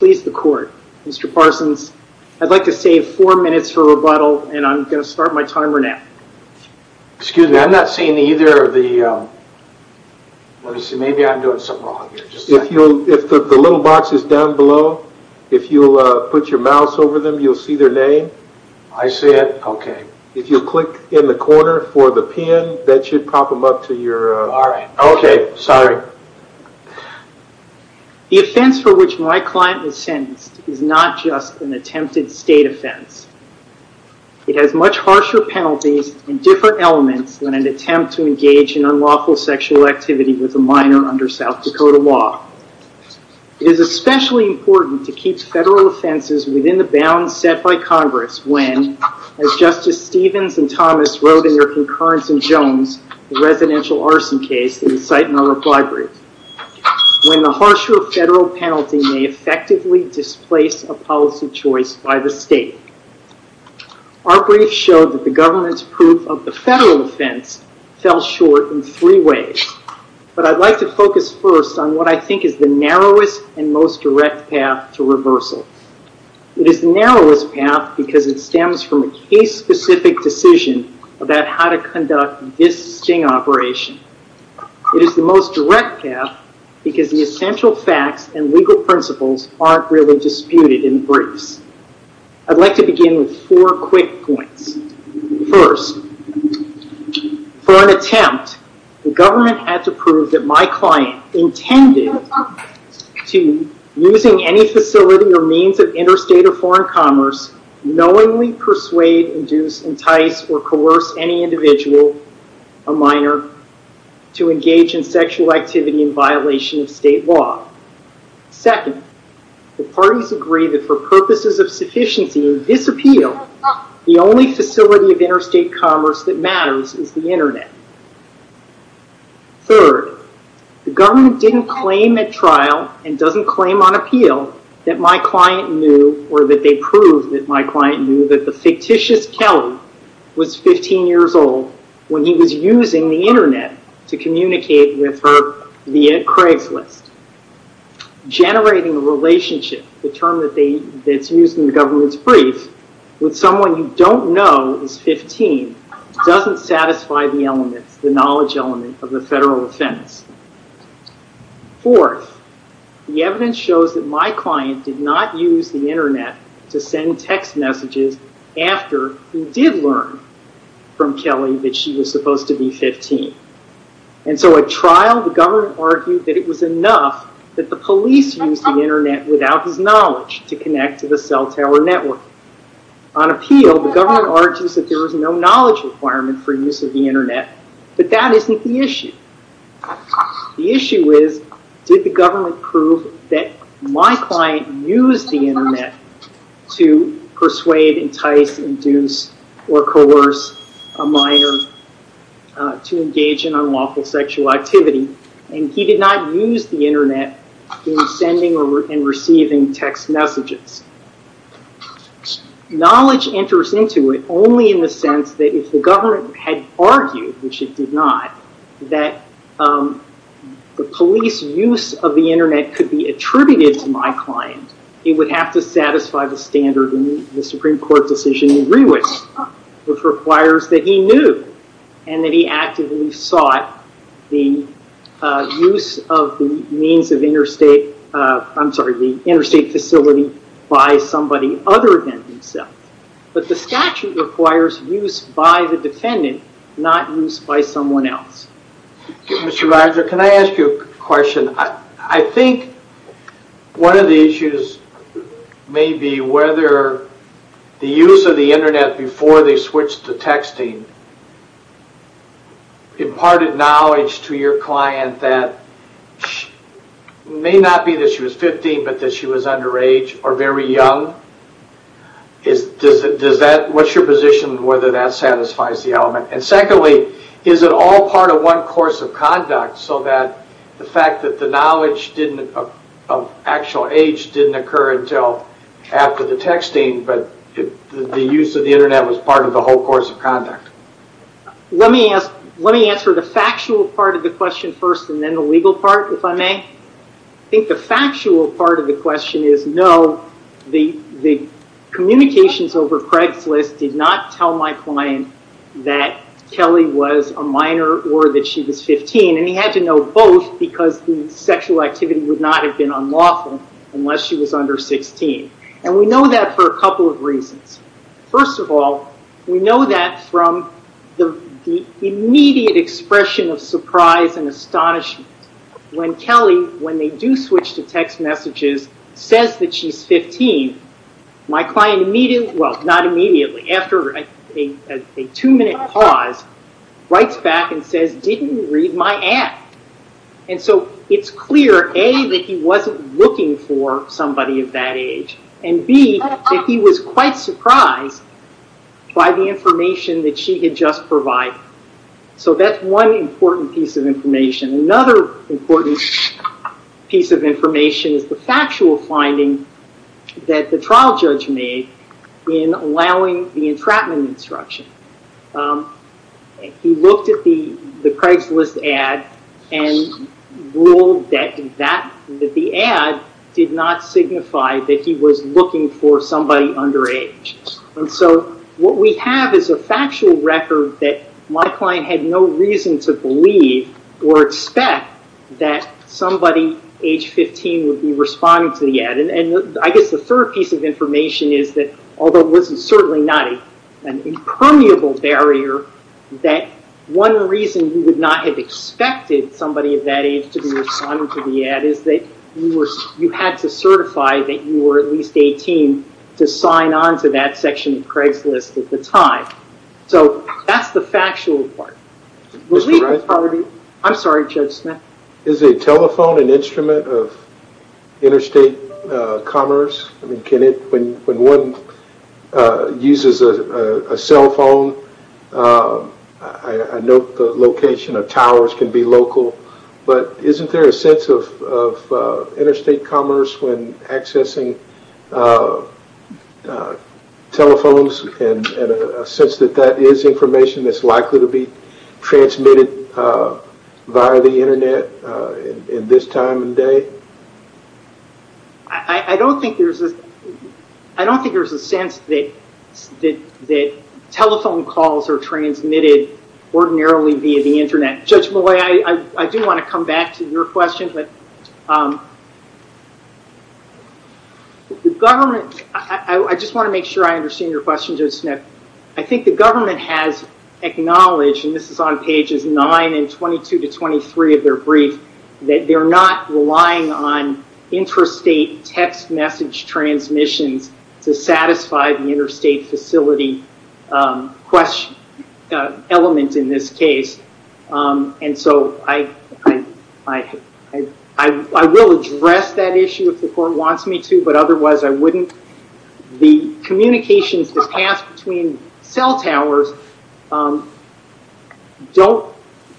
Mr. Parsons, I'd like to save four minutes for rebuttal, and I'm going to start my timer now. Excuse me, I'm not seeing either of the... Let me see, maybe I'm doing something wrong here. If the little box is down below, if you'll put your mouse over them, you'll see their name. I see it, okay. If you click in the corner for the pin, that should pop them up to your... Alright, okay, sorry. The offense for which my client was sentenced is not just an attempted state offense. It has much harsher penalties and different elements than an attempt to engage in unlawful sexual activity with a minor under South Dakota law. It is especially important to keep federal offenses within the bounds set by Congress when, as Justice Stevens and Thomas wrote in their concurrence in Jones, the residential arson case that we cite in our reply brief, when the harsher federal penalty may effectively displace a policy choice by the state. Our brief showed that the government's proof of the federal offense fell short in three ways, but I'd like to focus first on what I think is the narrowest and most direct path to reversal. It is the narrowest path because it stems from a case-specific decision about how to conduct this sting operation. It is the most direct path because the essential facts and legal principles aren't really disputed in briefs. I'd like to begin with four quick points. First, for an attempt, the government had to prove that my client intended to, using any facility or means of interstate or foreign commerce, knowingly persuade, induce, entice, or coerce any individual, a minor, to engage in sexual activity in violation of state law. Second, the parties agree that for purposes of sufficiency and disappeal, the only facility of interstate commerce that matters is the Internet. Third, the government didn't claim at trial and doesn't claim on appeal that my client knew, or that they proved that my client knew, that the fictitious Kelly was 15 years old when he was using the Internet to communicate with her via Craigslist. Generating a relationship, the term that's used in the government's brief, with someone you don't know is 15 doesn't satisfy the elements, the knowledge element of the federal defense. Fourth, the evidence shows that my client did not use the Internet to send text messages after he did learn from Kelly that she was supposed to be 15. And so at trial, the government argued that it was enough that the police used the Internet without his knowledge to connect to the cell tower network. On appeal, the government argues that there was no knowledge requirement for use of the Internet, but that isn't the issue. The issue is, did the government prove that my client used the Internet to persuade, entice, induce, or coerce a minor to engage in unlawful sexual activity, and he did not use the Internet in sending and receiving text messages. Knowledge enters into it only in the sense that if the government had argued, which it did not, that the police use of the Internet could be attributed to my client, it would have to satisfy the standard in the Supreme Court decision to agree with, which requires that he knew and that he actively sought the use of the means of interstate, I'm sorry, the interstate facility by somebody other than himself. But the statute requires use by the defendant, not use by someone else. Mr. Rogers, can I ask you a question? I think one of the issues may be whether the use of the Internet before they switched to texting imparted knowledge to your client that may not be that she was 15, but that she was underage or very young. What's your position on whether that satisfies the element? And secondly, is it all part of one course of conduct so that the fact that the knowledge of actual age didn't occur until after the texting, but the use of the Internet was part of the whole course of conduct? Let me answer the factual part of the question first and then the legal part, if I may. I think the factual part of the question is no, the communications over Craigslist did not tell my client that Kelly was a minor or that she was 15, and he had to know both because the sexual activity would not have been unlawful unless she was under 16. And we know that for a couple of reasons. First of all, we know that from the immediate expression of surprise and astonishment. When Kelly, when they do switch to text messages, says that she's 15, my client immediately, well, not immediately, after a two-minute pause, writes back and says, didn't you read my ad? And so it's clear, A, that he wasn't looking for somebody of that age, and B, that he was quite surprised by the information that she had just provided. So that's one important piece of information. Another important piece of information is the factual finding that the trial judge made in allowing the entrapment instruction. He looked at the Craigslist ad and ruled that the ad did not signify that he was looking for somebody underage. And so what we have is a factual record that my client had no reason to believe or expect that somebody age 15 would be responding to the ad. And I guess the third piece of information is that, although this is certainly not an impermeable barrier, that one reason you would not have expected somebody of that age to be responding to the ad is that you had to certify that you were at least 18 to sign on to that section of Craigslist at the time. So that's the factual part. I'm sorry, Judge Smith. Is a telephone an instrument of interstate commerce? When one uses a cell phone, I know the location of towers can be local, but isn't there a sense of interstate commerce when accessing telephones and a sense that that is information that's likely to be transmitted via the Internet in this time and day? I don't think there's a sense that telephone calls are transmitted ordinarily via the Internet. Judge Malloy, I do want to come back to your question, but I just want to make sure I understand your question, Judge Smith. I think the government has acknowledged, and this is on pages 9 and 22 to 23 of their brief, that they're not relying on interstate text message transmissions to satisfy the interstate facility element in this case. And so I will address that issue if the court wants me to, but otherwise I wouldn't. The communications that pass between cell towers don't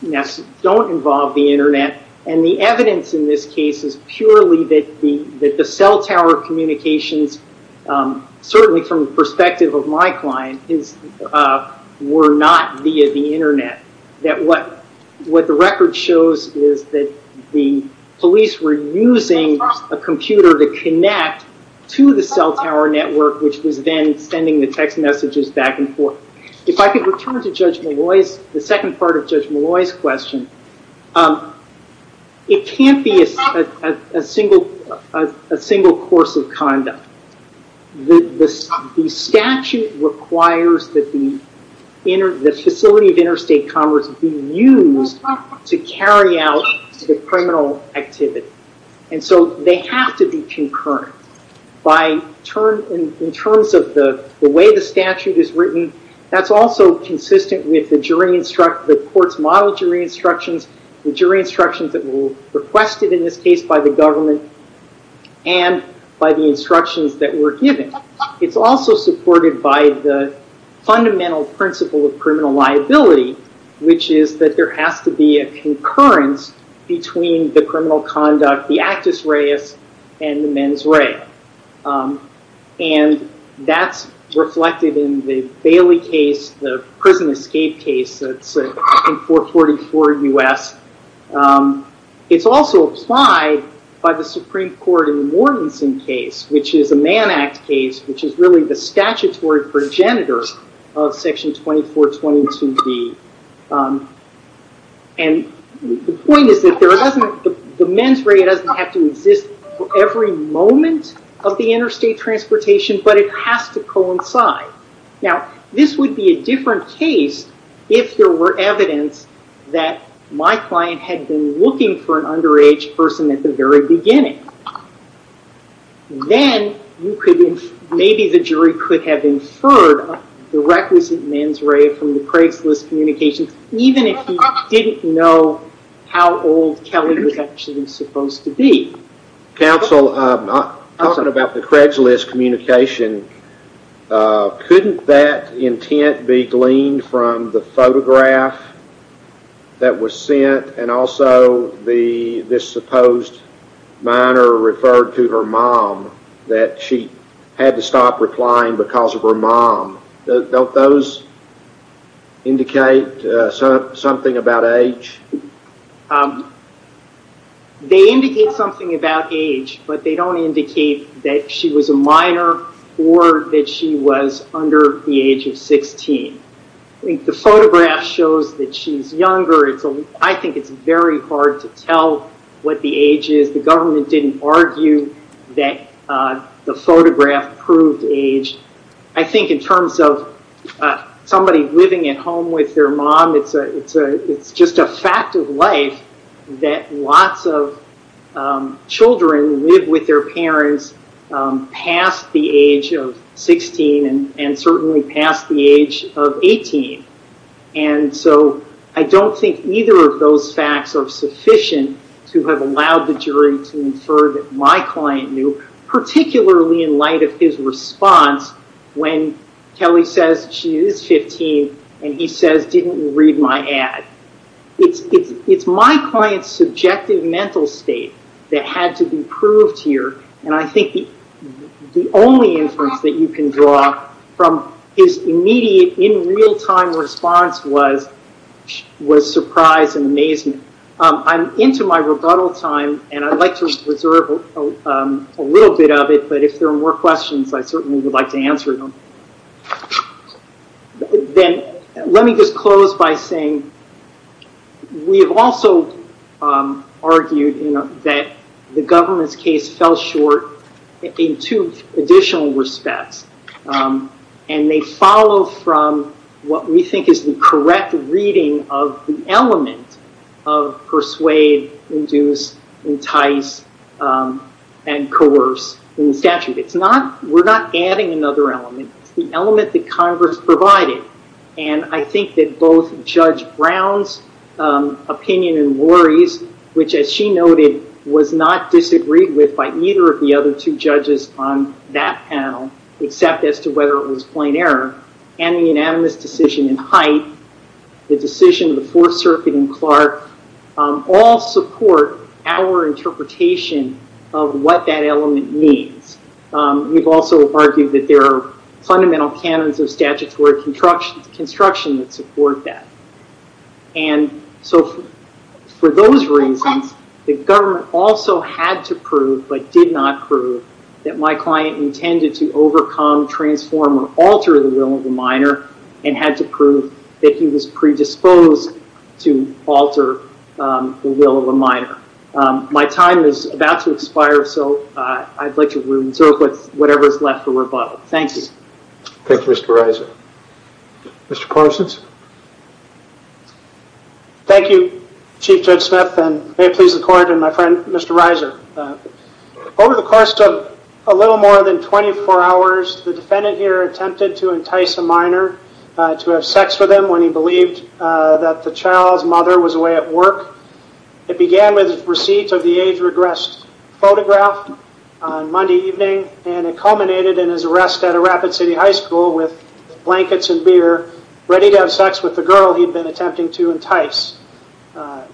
involve the Internet. And the evidence in this case is purely that the cell tower communications, certainly from the perspective of my client, were not via the Internet. What the record shows is that the police were using a computer to connect to the cell tower network, which was then sending the text messages back and forth. If I could return to the second part of Judge Malloy's question, it can't be a single course of conduct. The statute requires that the facility of interstate commerce be used to carry out the criminal activity. And so they have to be concurrent. In terms of the way the statute is written, that's also consistent with the court's model jury instructions, the jury instructions that were requested in this case by the government, and by the instructions that were given. It's also supported by the fundamental principle of criminal liability, which is that there has to be a concurrence between the criminal conduct, the actus reus, and the mens rea. And that's reflected in the Bailey case, the prison escape case that's in 444 U.S. It's also applied by the Supreme Court in the Mortensen case, which is a Man Act case, which is really the statutory progenitor of Section 2422B. And the point is that the mens rea doesn't have to exist for every moment of the interstate transportation, but it has to coincide. Now, this would be a different case if there were evidence that my client had been looking for an underage person at the very beginning. Then, maybe the jury could have inferred the requisite mens rea from the Craigslist communications, even if you didn't know how old Kelly was actually supposed to be. Counsel, talking about the Craigslist communication, couldn't that intent be gleaned from the photograph that was sent, and also this supposed minor referred to her mom, that she had to stop replying because of her mom? Don't those indicate something about age? They indicate something about age, but they don't indicate that she was a minor or that she was under the age of 16. The photograph shows that she's younger. I think it's very hard to tell what the age is. The government didn't argue that the photograph proved age. I think in terms of somebody living at home with their mom, it's just a fact of life that lots of children live with their parents past the age of 16 and certainly past the age of 18. I don't think either of those facts are sufficient to have allowed the jury to infer that my client knew, particularly in light of his response when Kelly says she is 15 and he says, didn't you read my ad? It's my client's subjective mental state that had to be proved here, and I think the only inference that you can draw from his immediate, in real time response was surprise and amazement. I'm into my rebuttal time, and I'd like to reserve a little bit of it, but if there are more questions, I certainly would like to answer them. Let me just close by saying we have also argued that the government's case fell short in two additional respects. They follow from what we think is the correct reading of the element of persuade, induce, entice, and coerce in the statute. We're not adding another element. It's the element that Congress provided, and I think that both Judge Brown's opinion and worries, which, as she noted, was not disagreed with by either of the other two judges on that panel, except as to whether it was plain error, and the unanimous decision in Hite, the decision of the Fourth Circuit in Clark, all support our interpretation of what that element means. We've also argued that there are fundamental canons of statutory construction that support that. For those reasons, the government also had to prove, but did not prove, that my client intended to overcome, transform, or alter the will of a minor, and had to prove that he was predisposed to alter the will of a minor. My time is about to expire, so I'd like to reserve whatever is left for rebuttal. Thank you. Thank you, Mr. Reiser. Mr. Parsons? Thank you, Chief Judge Smith, and may it please the Court and my friend, Mr. Reiser. Over the course of a little more than 24 hours, the defendant here attempted to entice a minor to have sex with him when he believed that the child's mother was away at work. It began with a receipt of the age-regressed photograph on Monday evening, and it culminated in his arrest at a Rapid City high school with blankets and beer, ready to have sex with the girl he'd been attempting to entice. The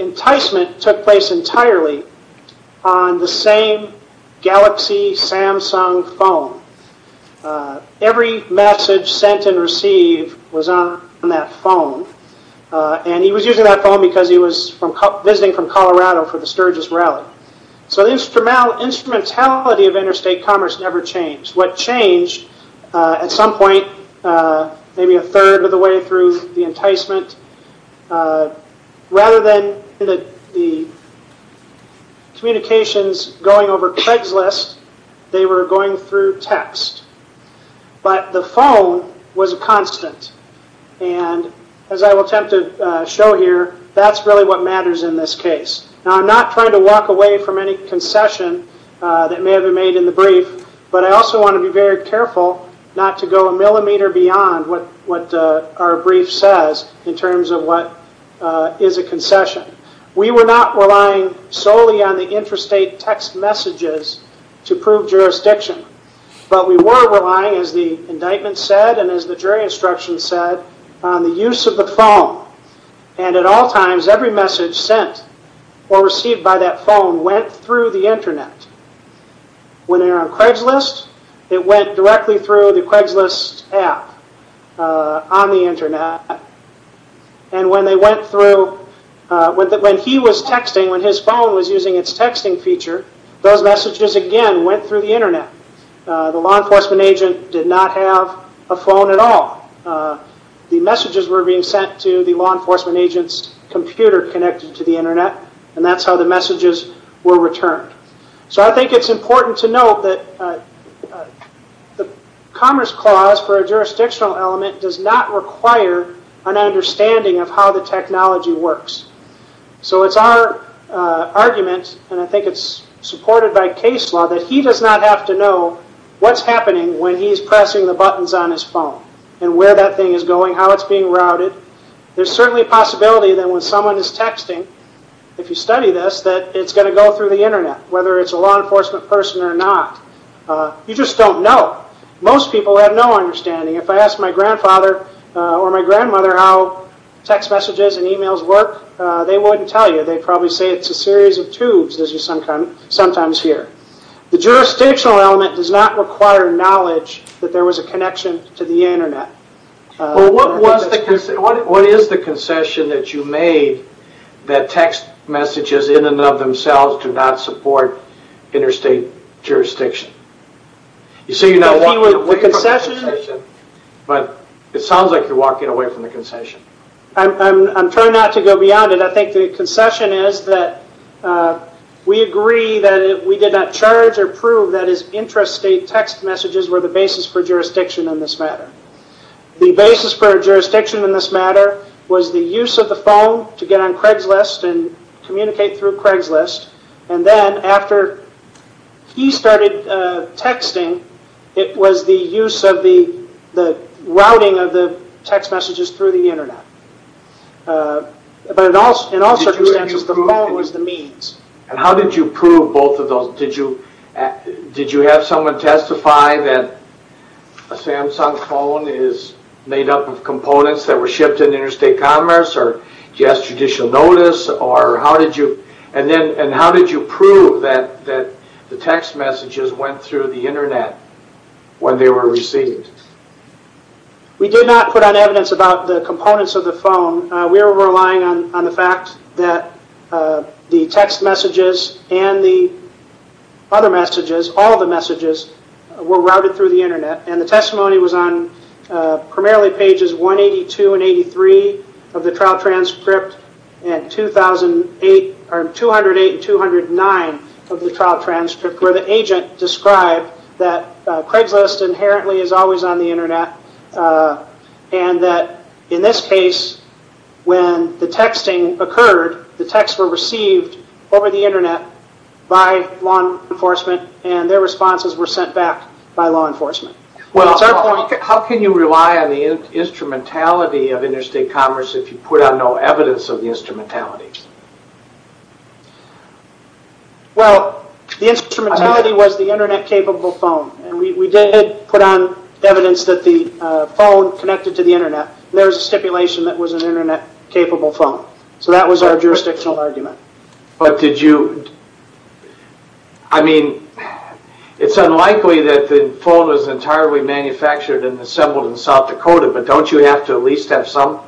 enticement took place entirely on the same Galaxy Samsung phone. Every message sent and received was on that phone, and he was using that phone because he was visiting from Colorado for the Sturgis rally. The instrumentality of interstate commerce never changed. What changed at some point, maybe a third of the way through the enticement, rather than the communications going over Craigslist, they were going through text. But the phone was a constant, and as I will attempt to show here, that's really what matters in this case. Now, I'm not trying to walk away from any concession that may have been made in the brief, but I also want to be very careful not to go a millimeter beyond what our brief says in terms of what is a concession. We were not relying solely on the interstate text messages to prove jurisdiction, but we were relying, as the indictment said and as the jury instruction said, on the use of the phone. At all times, every message sent or received by that phone went through the internet. When they were on Craigslist, it went directly through the Craigslist app on the internet. When he was texting, when his phone was using its texting feature, those messages, again, went through the internet. The law enforcement agent did not have a phone at all. The messages were being sent to the law enforcement agent's computer connected to the internet, and that's how the messages were returned. So I think it's important to note that the Commerce Clause for a jurisdictional element does not require an understanding of how the technology works. So it's our argument, and I think it's supported by case law, that he does not have to know what's happening when he's pressing the buttons on his phone and where that thing is going, how it's being routed. There's certainly a possibility that when someone is texting, if you study this, that it's going to go through the internet, whether it's a law enforcement person or not. You just don't know. Most people have no understanding. If I asked my grandfather or my grandmother how text messages and emails work, they wouldn't tell you. They'd probably say it's a series of tubes, as you sometimes hear. The jurisdictional element does not require knowledge that there was a connection to the internet. Well, what is the concession that you made that text messages in and of themselves do not support interstate jurisdiction? You say you're not walking away from the concession, but it sounds like you're walking away from the concession. I'm trying not to go beyond it. I think the concession is that we agree that we did not charge or prove that his interstate text messages were the basis for jurisdiction in this matter. The basis for jurisdiction in this matter was the use of the phone to get on Craigslist and communicate through Craigslist. Then, after he started texting, it was the use of the routing of the text messages through the internet. In all circumstances, the phone was the means. How did you prove both of those? Did you have someone testify that a Samsung phone is made up of components that were shipped in interstate commerce? Did you ask judicial notice? How did you prove that the text messages went through the internet when they were received? We did not put on evidence about the components of the phone. We were relying on the fact that the text messages and the other messages, all the messages, were routed through the internet. The testimony was on primarily pages 182 and 183 of the trial transcript and 208 and 209 of the trial transcript, where the agent described that Craigslist inherently is always on the internet and that, in this case, when the texting occurred, the texts were received over the internet by law enforcement and their responses were sent back by law enforcement. How can you rely on the instrumentality of interstate commerce if you put on no evidence of the instrumentality? The instrumentality was the internet capable phone. We did put on evidence that the phone connected to the internet. There was a stipulation that it was an internet capable phone. That was our jurisdictional argument. It's unlikely that the phone was entirely manufactured and assembled in South Dakota, but don't you have to at least have some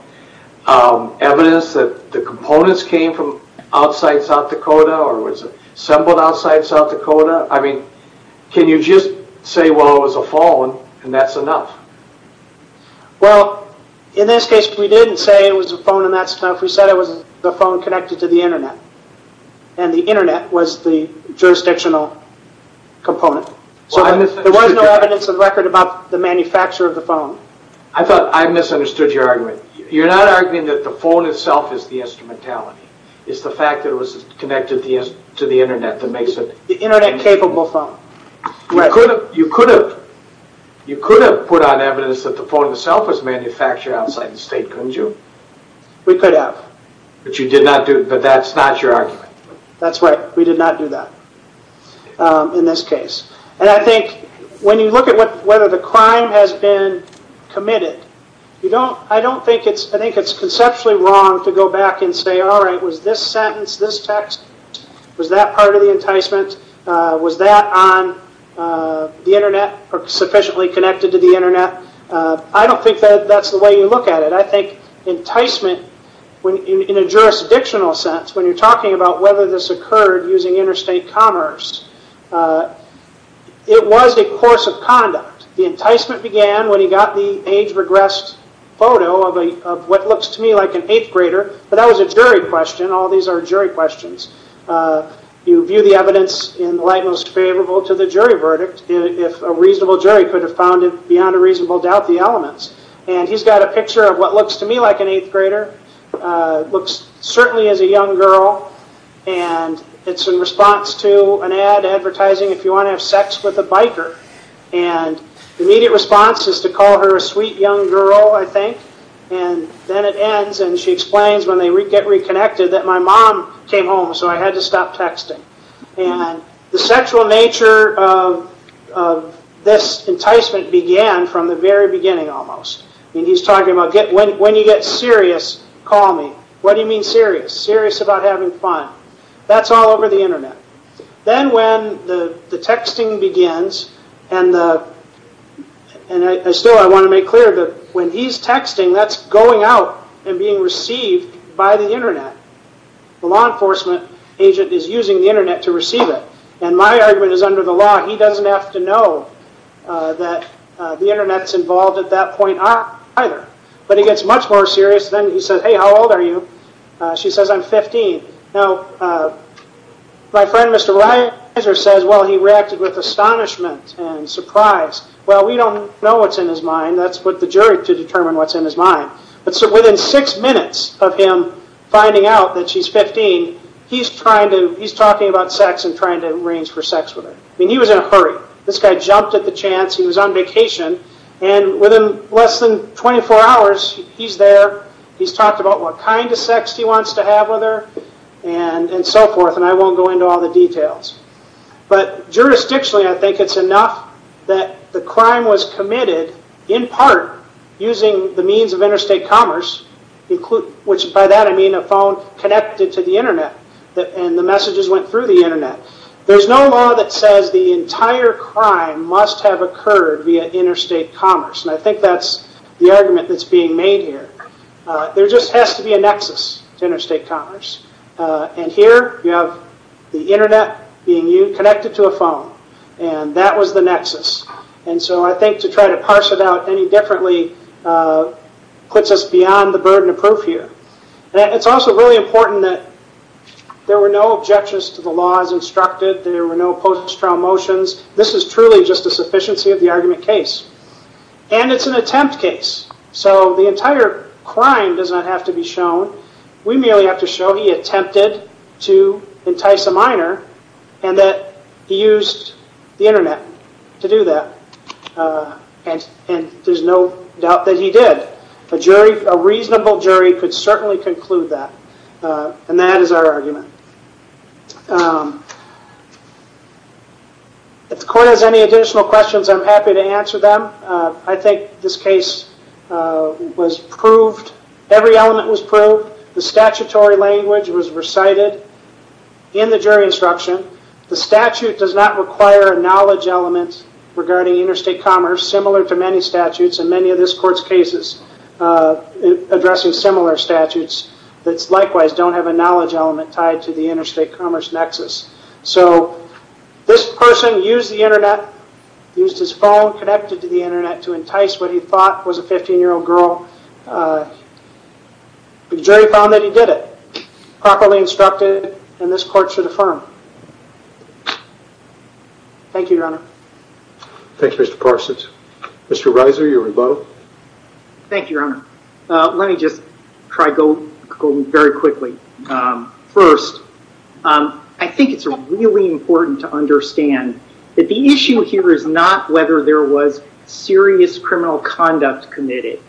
evidence that the components came from outside South Dakota or was assembled outside South Dakota? Can you just say, well, it was a phone and that's enough? Well, in this case, we didn't say it was a phone and that's enough. We said it was the phone connected to the internet and the internet was the jurisdictional component. There was no evidence of record about the manufacture of the phone. I thought I misunderstood your argument. You're not arguing that the phone itself is the instrumentality. It's the fact that it was connected to the internet that makes it... The internet capable phone. You could have put on evidence that the phone itself was manufactured outside the state, couldn't you? We could have. But that's not your argument. That's right. We did not do that in this case. I think when you look at whether the crime has been committed, I think it's conceptually wrong to go back and say, all right, was this sentence, this text, was that part of the enticement? Was that on the internet or sufficiently connected to the internet? I don't think that's the way you look at it. I think enticement, in a jurisdictional sense, when you're talking about whether this occurred using interstate commerce, it was a course of conduct. The enticement began when he got the age regressed photo of what looks to me like an eighth grader, but that was a jury question. All these are jury questions. You view the evidence in the light most favorable to the jury verdict. If a reasonable jury could have found it, beyond a reasonable doubt, the elements. And he's got a picture of what looks to me like an eighth grader. Looks certainly as a young girl. And it's in response to an ad advertising, if you want to have sex with a biker. And the immediate response is to call her a sweet young girl, I think. Then it ends and she explains when they get reconnected that my mom came home so I had to stop texting. The sexual nature of this enticement began from the very beginning almost. He's talking about when you get serious, call me. What do you mean serious? Serious about having fun. That's all over the internet. Then when the texting begins, and still I want to make clear that when he's texting, that's going out and being received by the internet. The law enforcement agent is using the internet to receive it. And my argument is under the law. He doesn't have to know that the internet's involved at that point either. But he gets much more serious. Then he says, hey, how old are you? She says, I'm 15. Now, my friend Mr. Reiser says, well, he reacted with astonishment and surprise. Well, we don't know what's in his mind. That's for the jury to determine what's in his mind. But so within six minutes of him finding out that she's 15, he's talking about sex and trying to arrange for sex with her. I mean, he was in a hurry. This guy jumped at the chance. He was on vacation. And within less than 24 hours, he's there. He's talked about what kind of sex he wants to have with her and so forth. And I won't go into all the details. But jurisdictionally, I think it's enough that the crime was committed, in part, using the means of interstate commerce, which by that I mean a phone connected to the internet and the messages went through the internet. There's no law that says the entire crime must have occurred via interstate commerce. And I think that's the argument that's being made here. There just has to be a nexus to interstate commerce. And here you have the internet being connected to a phone, and that was the nexus. And so I think to try to parse it out any differently puts us beyond the burden of proof here. It's also really important that there were no objections to the laws instructed. There were no post-trial motions. This is truly just a sufficiency of the argument case. And it's an attempt case. So the entire crime does not have to be shown. We merely have to show he attempted to entice a minor and that he used the internet to do that. And there's no doubt that he did. A reasonable jury could certainly conclude that. And that is our argument. If the court has any additional questions, I'm happy to answer them. I think this case was proved. Every element was proved. The statutory language was recited in the jury instruction. The statute does not require a knowledge element regarding interstate commerce, similar to many statutes and many of this court's cases addressing similar statutes that likewise don't have a knowledge element tied to the interstate commerce nexus. So this person used the internet, used his phone connected to the internet, to entice what he thought was a 15-year-old girl. The jury found that he did it, properly instructed, and this court should affirm. Thank you, Your Honor. Thanks, Mr. Parsons. Mr. Reiser, you were in both. Thank you, Your Honor. Let me just try to go very quickly. First, I think it's really important to understand that the issue here is not whether there was serious criminal conduct committed,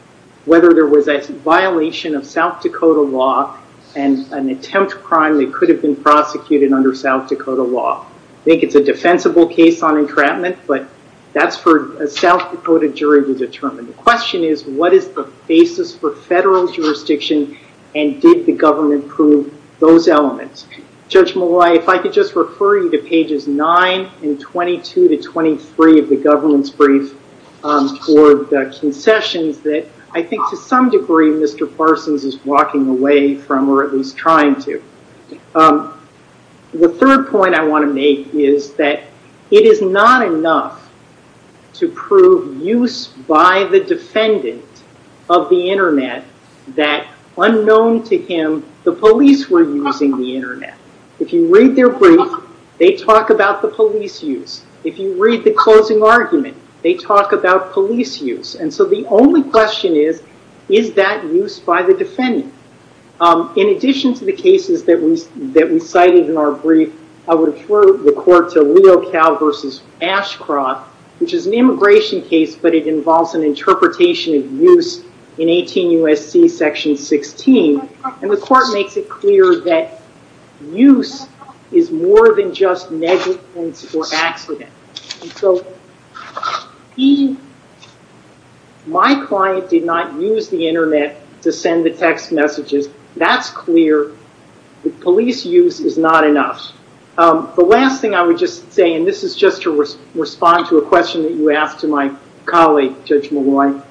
whether there was a violation of South Dakota law and an attempt crime that could have been prosecuted under South Dakota law. I think it's a defensible case on entrapment, but that's for a South Dakota jury to determine. The question is, what is the basis for federal jurisdiction and did the government prove those elements? Judge Molloy, if I could just refer you to pages 9 and 22 to 23 of the government's brief for the concessions that I think to some degree Mr. Parsons is walking away from or at least trying to. The third point I want to make is that it is not enough to prove use by the defendant of the Internet that unknown to him the police were using the Internet. If you read their brief, they talk about the police use. If you read the closing argument, they talk about police use. And so the only question is, is that use by the defendant? In addition to the cases that we cited in our brief, I would refer the court to Leo Cow versus Ashcroft, which is an immigration case, but it involves an interpretation of use in 18 U.S.C. section 16. And the court makes it clear that use is more than just negligence or accident. And so my client did not use the Internet to send the text messages. That's clear. The police use is not enough. The last thing I would just say, and this is just to respond to a question that you asked to my colleague, Judge Malone.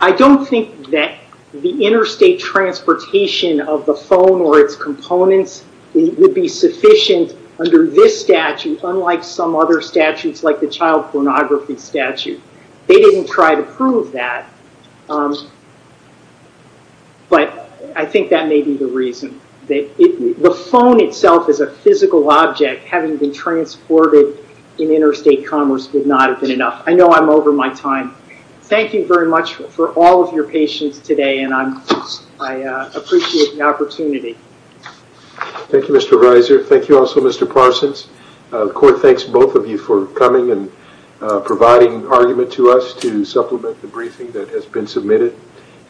I don't think that the interstate transportation of the phone or its components would be sufficient under this statute, unlike some other statutes like the child pornography statute. They didn't try to prove that. But I think that may be the reason. The phone itself is a physical object. Having been transported in interstate commerce would not have been enough. I know I'm over my time. Thank you very much for all of your patience today, and I appreciate the opportunity. Thank you, Mr. Reiser. Thank you also, Mr. Parsons. The court thanks both of you for coming and providing argument to us to supplement the briefing that has been submitted.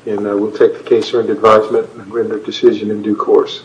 And we'll take the case under advisement and render a decision in due course.